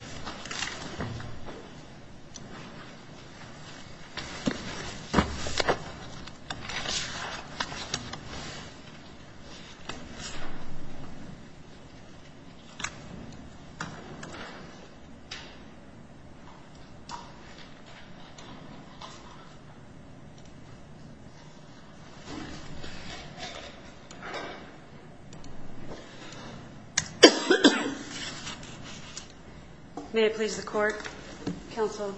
Nucleic Acid Water May I please the Court, Counsel.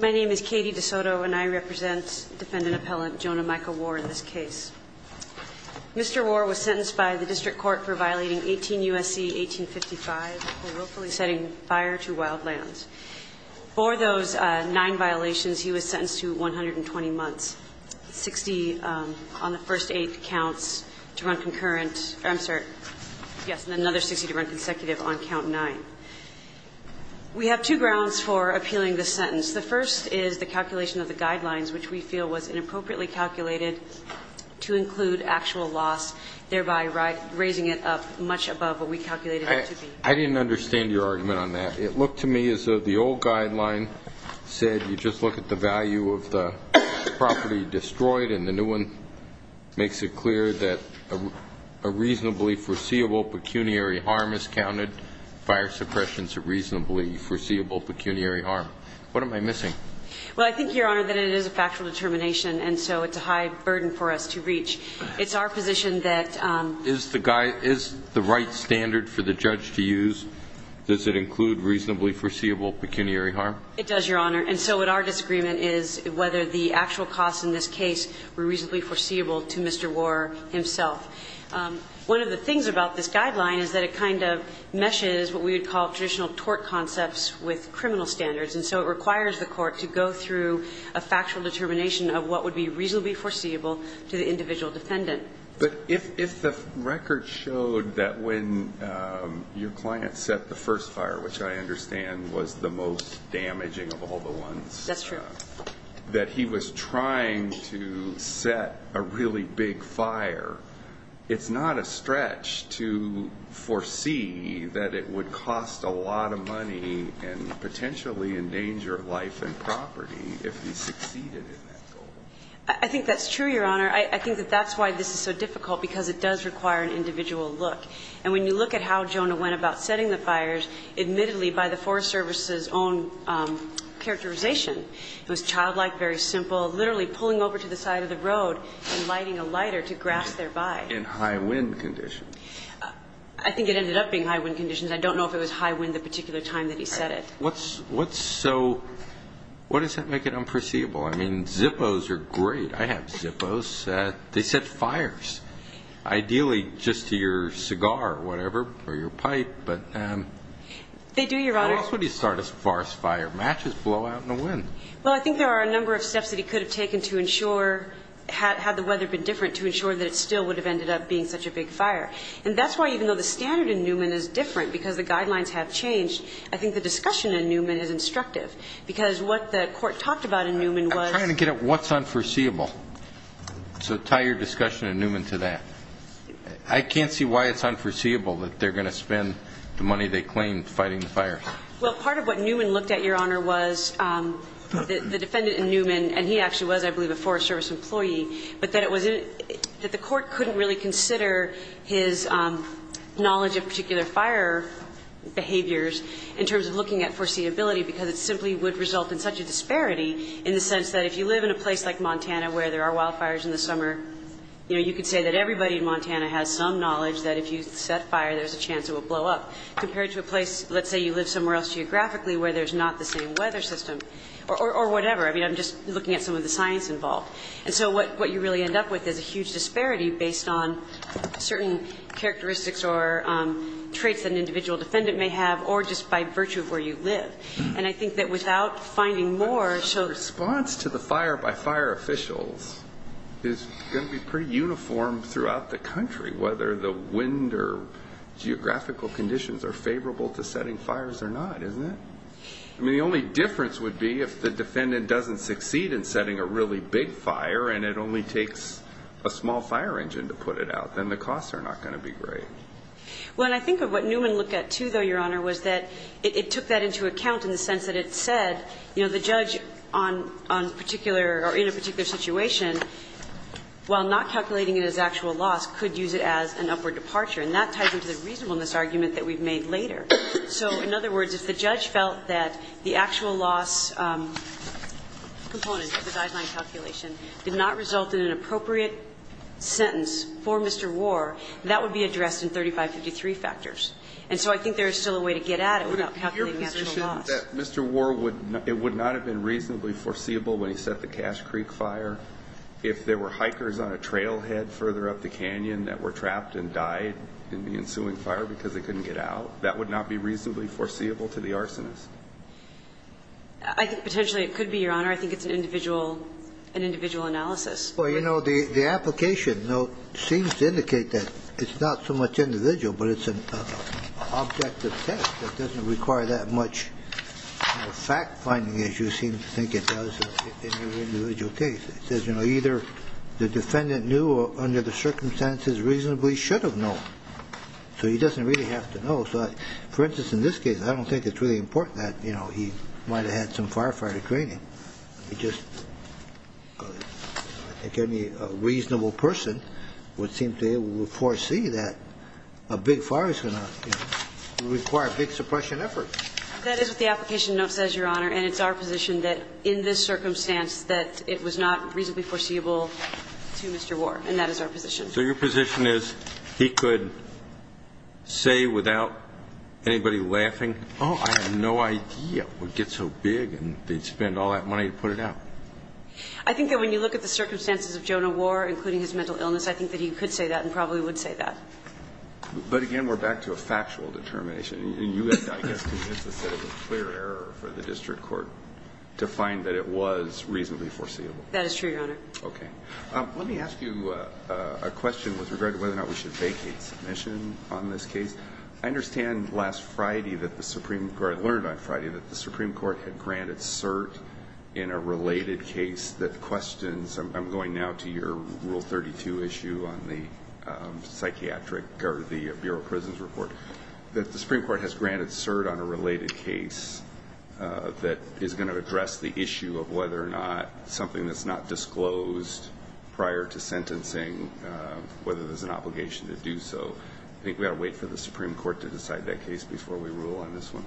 My name is Katie DeSoto and I represent Defendant Appellant Jonah Michael Warr in this case. Mr. Warr was sentenced by the District Court for violating 18 U.S.C. 1855 for willfully setting fire to wild lands. For those nine violations, he was sentenced to 120 months, 60 on the first eight counts to run concurrent, I'm sorry, yes, and another 60 to run consecutive on count nine. We have two grounds for appealing this sentence. The first is the calculation of the guidelines, which we feel was inappropriately calculated to include actual loss, thereby raising it up much above what we calculated it to be. I didn't understand your argument on that. It looked to me as though the old guideline said you just look at the value of the property destroyed and the new one makes it clear that a reasonably foreseeable pecuniary harm is counted. Fire suppression is a reasonably foreseeable pecuniary harm. What am I missing? Well, I think, Your Honor, that it is a factual determination and so it's a high burden for us to reach. It's our position that – Is the right standard for the judge to use, does it include reasonably foreseeable pecuniary harm? It does, Your Honor. And so what our disagreement is whether the actual costs in this case were reasonably foreseeable to Mr. Warr himself. One of the things about this guideline is that it kind of meshes what we would call traditional tort concepts with criminal standards. And so it requires the court to go through a factual determination of what would be reasonably foreseeable to the individual defendant. But if the record showed that when your client set the first fire, which I understand was the most damaging of all the ones – That's true. that he was trying to set a really big fire, it's not a stretch to foresee that it would cost a lot of money and potentially endanger life and property if he succeeded in that goal. I think that's true, Your Honor. I think that that's why this is so difficult, because it does require an individual look. And when you look at how Jonah went about setting the fires, admittedly by the Forest Service's own characterization, it was childlike, very simple, literally pulling over to the side of the road and lighting a lighter to grass thereby. In high wind conditions. I think it ended up being high wind conditions. I don't know if it was high wind the particular time that he set it. What's so – what does that make it unforeseeable? I mean, Zippos are great. I have Zippos. They set fires. Ideally, just to your cigar or whatever, or your pipe. They do, Your Honor. Why else would he start a forest fire? Matches blow out in the wind. Well, I think there are a number of steps that he could have taken to ensure, had the weather been different, to ensure that it still would have ended up being such a big fire. And that's why even though the standard in Newman is different, because the guidelines have changed, I think the discussion in Newman is instructive, because what the court talked about in Newman was – I'm trying to get at what's unforeseeable. So tie your discussion in Newman to that. I can't see why it's unforeseeable that they're going to spend the money they claim fighting the fire. Well, part of what Newman looked at, Your Honor, was the defendant in Newman, and he actually was, I believe, a Forest Service employee, but that the court couldn't really consider his knowledge of particular fire behaviors in terms of looking at foreseeability because it simply would result in such a disparity in the sense that if you live in a place like Montana where there are wildfires in the summer, you know, you could say that everybody in Montana has some knowledge that if you set fire, there's a chance it will blow up, compared to a place, let's say you live somewhere else geographically where there's not the same weather system or whatever. I mean, I'm just looking at some of the science involved. And so what you really end up with is a huge disparity based on certain characteristics or traits that an individual defendant may have or just by virtue of where you live. And I think that without finding more, so... The response to the fire by fire officials is going to be pretty uniform throughout the country, whether the wind or geographical conditions are favorable to setting fires or not, isn't it? I mean, the only difference would be if the defendant doesn't succeed in setting a really big fire and it only takes a small fire engine to put it out, then the costs are not going to be great. Well, and I think what Newman looked at, too, though, Your Honor, was that it took that into account in the sense that it said, you know, the judge on particular or in a particular situation, while not calculating it as actual loss, could use it as an upward departure. And that ties into the reasonableness argument that we've made later. So in other words, if the judge felt that the actual loss component of the guideline calculation did not result in an appropriate sentence for Mr. Warr, that would be addressed in 3553 factors. And so I think there is still a way to get at it without calculating the actual loss. Your position is that Mr. Warr would not have been reasonably foreseeable when he set the Cache Creek fire? If there were hikers on a trailhead further up the canyon that were trapped and died in the ensuing fire because they couldn't get out, that would not be reasonably foreseeable to the arsonist? I think potentially it could be, Your Honor. I think it's an individual analysis. Well, you know, the application, though, seems to indicate that it's not so much individual, but it's an objective test that doesn't require that much fact-finding as you seem to think it does in your individual case. It says, you know, either the defendant knew or under the circumstances reasonably should have known. So he doesn't really have to know. So, for instance, in this case, I don't think it's really important that, you know, he might have had some firefighter training. I just think any reasonable person would seem to be able to foresee that a big fire is going to require big suppression efforts. That is what the application note says, Your Honor. And it's our position that in this circumstance that it was not reasonably foreseeable to Mr. Warr. And that is our position. So your position is he could say without anybody laughing, oh, I have no idea what It's a big deal. And if it gets so big, they'd spend all that money to put it out. I think that when you look at the circumstances of Jonah Warr, including his mental illness, I think that he could say that and probably would say that. But again, we're back to a factual determination. And you have to, I guess, convince us that it was a clear error for the district court to find that it was reasonably foreseeable. That is true, Your Honor. Okay. Let me ask you a question with regard to whether or not we should vacate submission on this case. I understand last Friday that the Supreme Court, I learned on Friday that the Supreme Court had granted cert in a related case that questions, I'm going now to your Rule 32 issue on the psychiatric, or the Bureau of Prisons report, that the Supreme Court has granted cert on a related case that is going to address the issue of whether or not something that's not disclosed prior to sentencing, whether there's an obligation to do so. I think we ought to wait for the Supreme Court to decide that case before we rule on this one.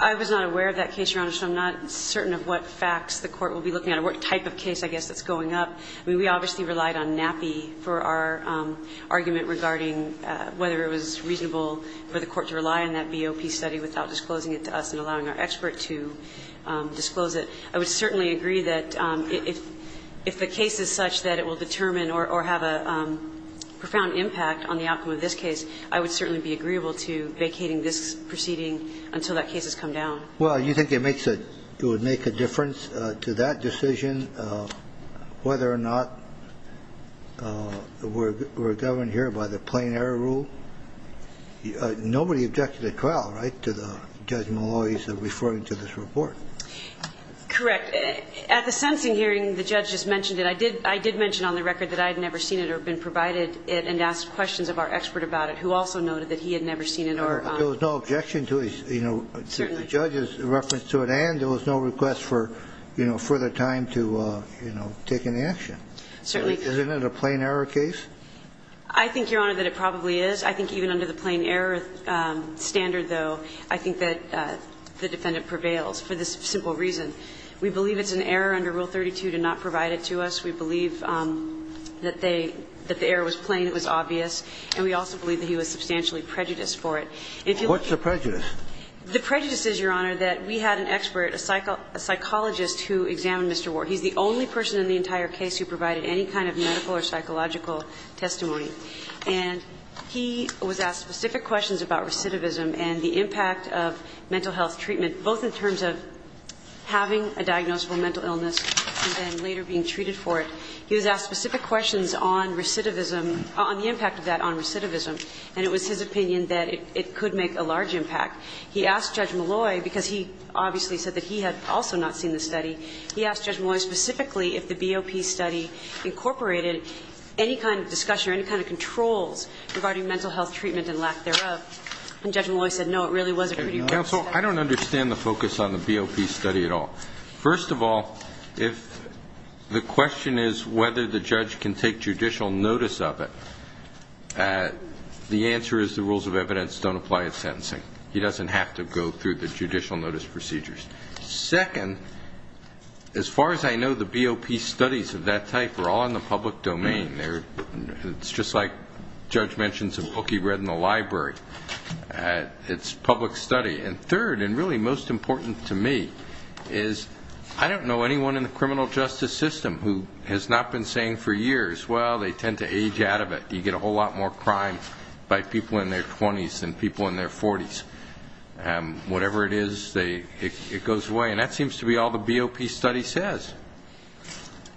I was not aware of that case, Your Honor, so I'm not certain of what facts the court will be looking at or what type of case, I guess, that's going up. I mean, we obviously relied on NAPI for our argument regarding whether it was reasonable for the court to rely on that BOP study without disclosing it to us and allowing our expert to disclose it. I would certainly agree that if the case is such that it will determine or have a profound impact on the outcome of this case, I would certainly be agreeable to vacating this proceeding until that case has come down. Well, you think it makes a – it would make a difference to that decision whether or not we're governed here by the plain error rule? Nobody objected at Crowell, right, to Judge Malloy's referring to this report? Correct. At the sentencing hearing, the judge just mentioned it. I did – I did mention on the record that I had never seen it or been provided it and asked questions of our expert about it, who also noted that he had never seen it or – There was no objection to his – you know, the judge's reference to it and there was no request for, you know, further time to, you know, take any action. Certainly. Isn't it a plain error case? I think, Your Honor, that it probably is. I think even under the plain error standard, though, I think that the defendant prevails for this simple reason. We believe it's an error under Rule 32 to not provide it to us. We believe that they – that the error was plain, it was obvious. And we also believe that he was substantially prejudiced for it. What's the prejudice? The prejudice is, Your Honor, that we had an expert, a psychologist who examined Mr. Ward. He's the only person in the entire case who provided any kind of medical or psychological testimony. And he was asked specific questions about recidivism and the impact of mental health treatment, both in terms of having a diagnosable mental illness and then later being treated for it. He was asked specific questions on recidivism, on the impact of that on recidivism, and it was his opinion that it could make a large impact. He asked Judge Malloy, because he obviously said that he had also not seen the study, he asked Judge Malloy specifically if the BOP study incorporated any kind of discussion or any kind of controls regarding mental health treatment and lack thereof. And Judge Malloy said no, it really wasn't. Counsel, I don't understand the focus on the BOP study at all. First of all, if the question is whether the judge can take judicial notice of it, the answer is the rules of evidence don't apply at sentencing. He doesn't have to go through the judicial notice procedures. Second, as far as I know, the BOP studies of that type are all in the public domain. It's just like Judge mentioned, it's a book he read in the library. It's public study. And third, and really most important to me, is I don't know anyone in the criminal justice system who has not been saying for years, well, they tend to age out of it. You get a whole lot more crime by people in their 20s than people in their 40s. Whatever it is, it goes away. And that seems to be all the BOP study says.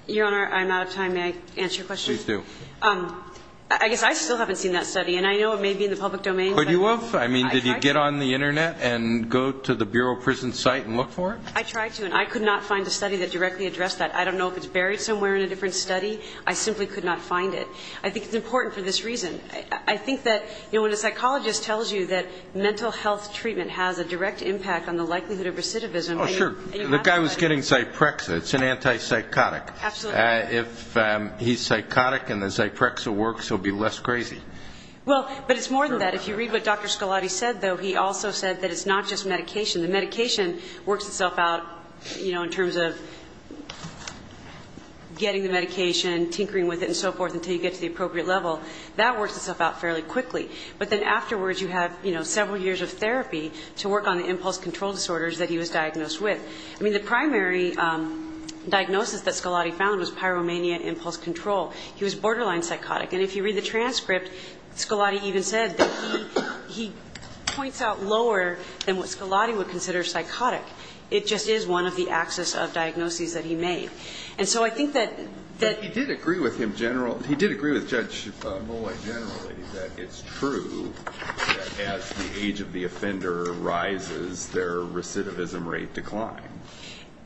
Your Honor, I'm out of time. May I answer your question? Please do. I guess I still haven't seen that study, and I know it may be in the public domain. Could you have? I mean, did you get on the Internet and go to the bureau prison site and look for it? I tried to, and I could not find a study that directly addressed that. I don't know if it's buried somewhere in a different study. I simply could not find it. I think it's important for this reason. I think that when a psychologist tells you that mental health treatment has a direct impact on the likelihood of recidivism. Oh, sure. The guy was getting Zyprexa. It's an antipsychotic. Absolutely. If he's psychotic and the Zyprexa works, he'll be less crazy. Well, but it's more than that. If you read what Dr. Scolati said, though, he also said that it's not just medication. The medication works itself out, you know, in terms of getting the medication, tinkering with it, and so forth, until you get to the appropriate level. That works itself out fairly quickly. But then afterwards you have, you know, several years of therapy to work on the impulse control disorders that he was diagnosed with. I mean, the primary diagnosis that Scolati found was pyromania impulse control. He was borderline psychotic. And if you read the transcript, Scolati even said that he points out lower than what Scolati would consider psychotic. It just is one of the axis of diagnoses that he made. And so I think that that he did agree with him general. He did agree with Judge Molloy generally that it's true that as the age of the offender rises, their recidivism rate decline.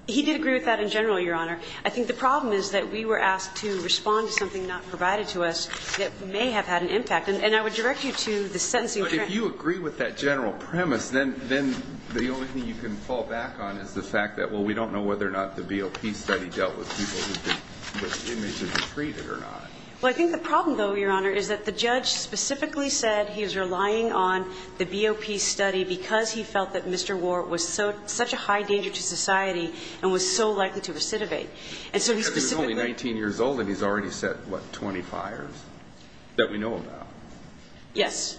He did agree with that in general, Your Honor. I think the problem is that we were asked to respond to something not provided to us that may have had an impact. And I would direct you to the sentencing. But if you agree with that general premise, then the only thing you can fall back on is the fact that, well, we don't know whether or not the BOP study dealt with people whose images were treated or not. Well, I think the problem, though, Your Honor, is that the judge specifically said he was relying on the BOP study because he felt that Mr. Warr was such a high danger to society and was so likely to recidivate. And so he specifically – Because he was only 19 years old and he's already set, what, 20 fires that we know about. Yes.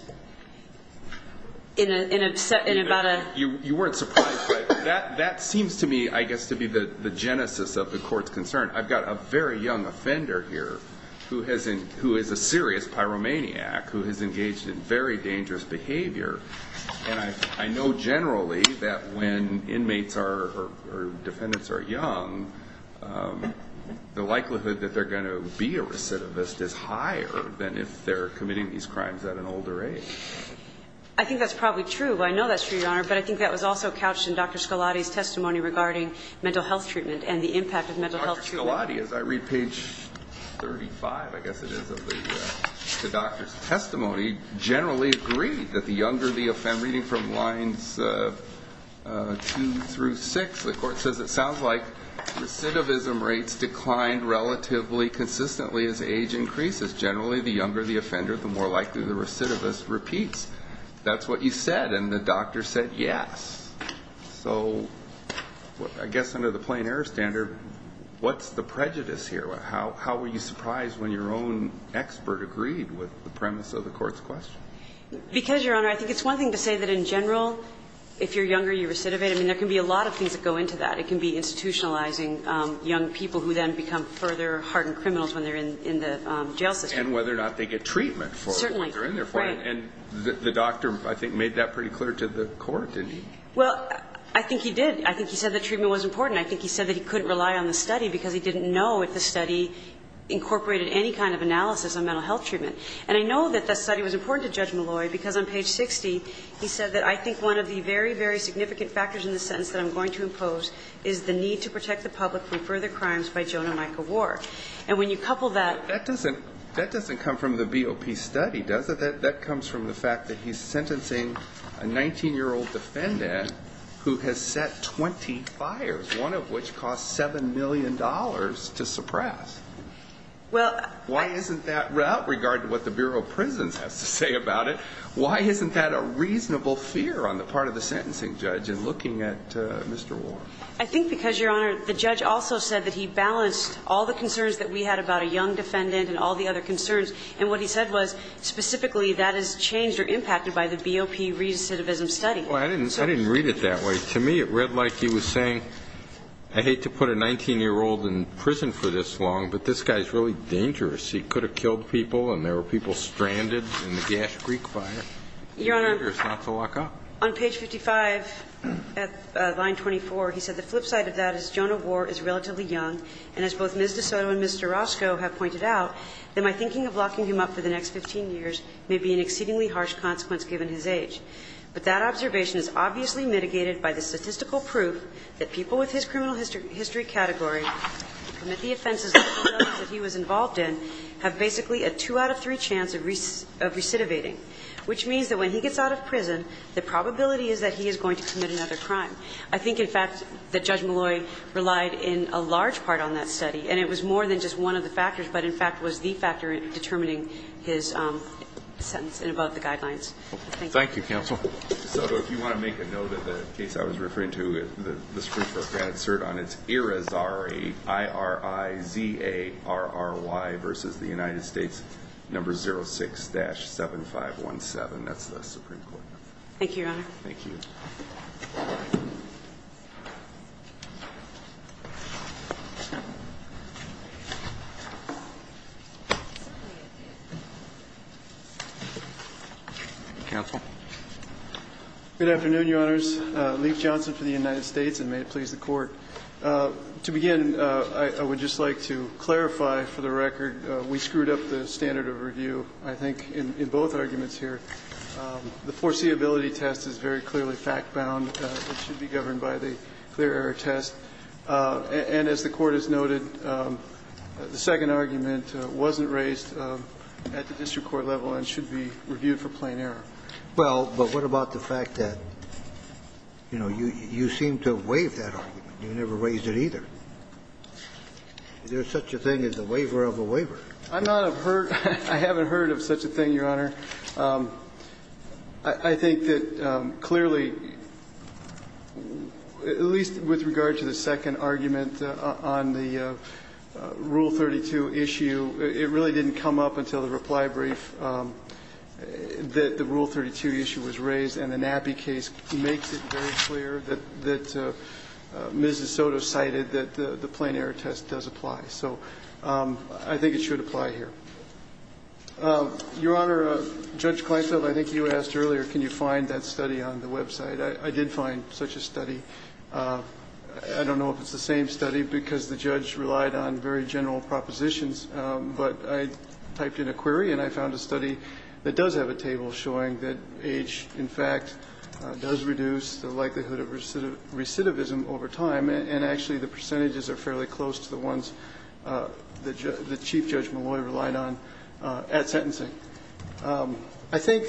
In about a – You weren't surprised, but that seems to me, I guess, to be the genesis of the Court's concern. I've got a very young offender here who is a serious pyromaniac who has engaged in very dangerous behavior. And I know generally that when inmates are – or defendants are young, the likelihood that they're going to be a recidivist is higher than if they're committing these crimes at an older age. I think that's probably true. Well, I know that's true, Your Honor, but I think that was also couched in Dr. Scalati's testimony regarding mental health treatment and the impact of mental health treatment. Dr. Scalati, as I read page 35, I guess it is, of the doctor's testimony, generally agreed that the younger the – reading from lines 2 through 6, the Court says, it sounds like recidivism rates declined relatively consistently as age increases. Generally, the younger the offender, the more likely the recidivist repeats. That's what you said, and the doctor said yes. So I guess under the plain-error standard, what's the prejudice here? How were you surprised when your own expert agreed with the premise of the Court's question? Because, Your Honor, I think it's one thing to say that in general, if you're younger, you recidivate. I mean, there can be a lot of things that go into that. It can be institutionalizing young people who then become further hardened criminals when they're in the jail system. And whether or not they get treatment for it. Certainly. And the doctor, I think, made that pretty clear to the Court, didn't he? Well, I think he did. I think he said the treatment was important. I think he said that he couldn't rely on the study because he didn't know if the study incorporated any kind of analysis on mental health treatment. And I know that the study was important to Judge Malloy because on page 60, he said that I think one of the very, very significant factors in the sentence that I'm going to impose is the need to protect the public from further crimes by Jonah Micawar. And when you couple that – Because that comes from the fact that he's sentencing a 19-year-old defendant who has set 20 fires, one of which cost $7 million to suppress. Well, I – Why isn't that, without regard to what the Bureau of Prisons has to say about it, why isn't that a reasonable fear on the part of the sentencing judge in looking at Mr. Warren? I think because, Your Honor, the judge also said that he balanced all the concerns that we had about a young defendant and all the other concerns. And what he said was, specifically, that is changed or impacted by the BOP recidivism study. Well, I didn't read it that way. To me, it read like he was saying, I hate to put a 19-year-old in prison for this long, but this guy is really dangerous. He could have killed people and there were people stranded in the Gash Creek fire. Your Honor, on page 55, at line 24, he said the flip side of that is Jonah Warr is relatively young, and as both Ms. DeSoto and Mr. Roscoe have pointed out, that my thinking of locking him up for the next 15 years may be an exceedingly harsh consequence, given his age. But that observation is obviously mitigated by the statistical proof that people with his criminal history category who commit the offenses that he was involved in have basically a 2 out of 3 chance of recidivating, which means that when he gets out of prison, the probability is that he is going to commit another crime. I think, in fact, that Judge Malloy relied in a large part on that study, and it was more than just one of the factors, but, in fact, was the factor in determining his sentence and above the guidelines. Thank you. Thank you, counsel. DeSoto, if you want to make a note of the case I was referring to, the Supreme Court can insert on it Irizarry, I-r-i-z-a-r-r-y versus the United States number 06-7517. That's the Supreme Court. Thank you, Your Honor. Thank you. Counsel. Good afternoon, Your Honors. Leif Johnson for the United States, and may it please the Court. To begin, I would just like to clarify, for the record, we screwed up the standard of review, I think, in both arguments here. The foreseeability test is very clearly fact-bound. It should be governed by the clear error test. And as the Court has noted, the second argument wasn't raised at the district court level and should be reviewed for plain error. Well, but what about the fact that, you know, you seem to have waived that argument. You never raised it either. Is there such a thing as a waiver of a waiver? I'm not a person of such a thing, Your Honor. I think that clearly, at least with regard to the second argument on the Rule 32 issue, it really didn't come up until the reply brief that the Rule 32 issue was raised, and the Nappy case makes it very clear that Mrs. Soto cited that the plain error test does apply. So I think it should apply here. Your Honor, Judge Kleinfeld, I think you asked earlier, can you find that study on the website. I did find such a study. I don't know if it's the same study, because the judge relied on very general propositions, but I typed in a query and I found a study that does have a table showing that age, in fact, does reduce the likelihood of recidivism over time, and actually the percentages are fairly close to the ones that Chief Judge Molloy relied on at sentencing. I think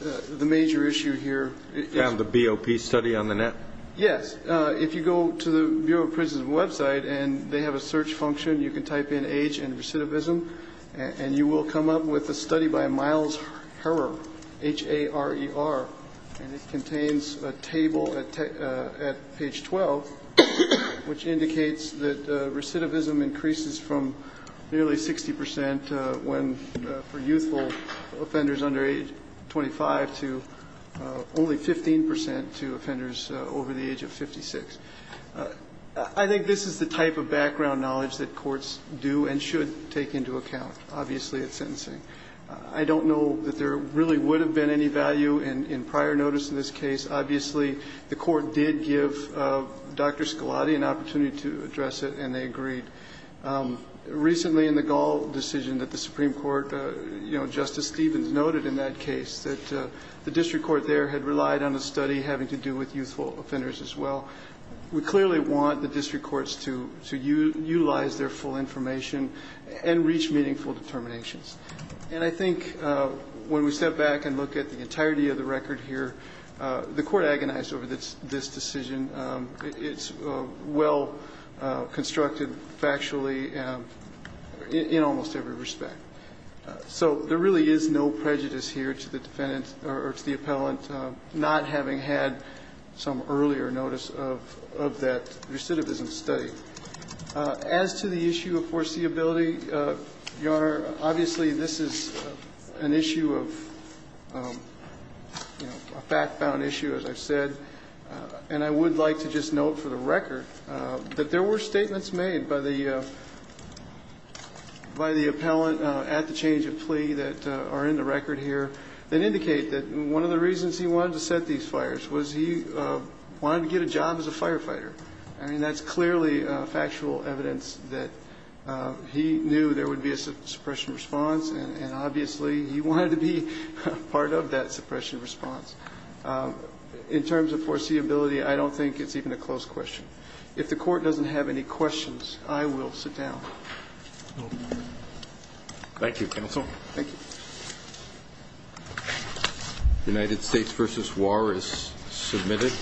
the major issue here is the BOP study on the net. Yes. If you go to the Bureau of Prisons website and they have a search function, you can type in age and recidivism, and you will come up with a study by Miles Harer, H-A-R-E-R, and it contains a table at page 12, which indicates that recidivism increases from nearly 60 percent for youthful offenders under age 25 to only 15 percent to offenders over the age of 56. I think this is the type of background knowledge that courts do and should take into account, obviously, at sentencing. I don't know that there really would have been any value in prior notice in this case. Obviously, the Court did give Dr. Scalati an opportunity to address it, and they did. Recently in the Gall decision that the Supreme Court, you know, Justice Stevens noted in that case that the district court there had relied on a study having to do with youthful offenders as well. We clearly want the district courts to utilize their full information and reach meaningful determinations. And I think when we step back and look at the entirety of the record here, the Court agonized over this decision. It's well constructed factually in almost every respect. So there really is no prejudice here to the defendant or to the appellant not having had some earlier notice of that recidivism study. As to the issue of foreseeability, Your Honor, obviously, this is an issue of, you know, a fact-bound issue, as I've said. And I would like to just note for the record that there were statements made by the appellant at the change of plea that are in the record here that indicate that one of the reasons he wanted to set these fires was he wanted to get a job as a firefighter. I mean, that's clearly factual evidence that he knew there would be a suppression response, and obviously, he wanted to be part of that suppression response. In terms of foreseeability, I don't think it's even a close question. If the Court doesn't have any questions, I will sit down. Thank you, counsel. Thank you. United States v. War is submitted.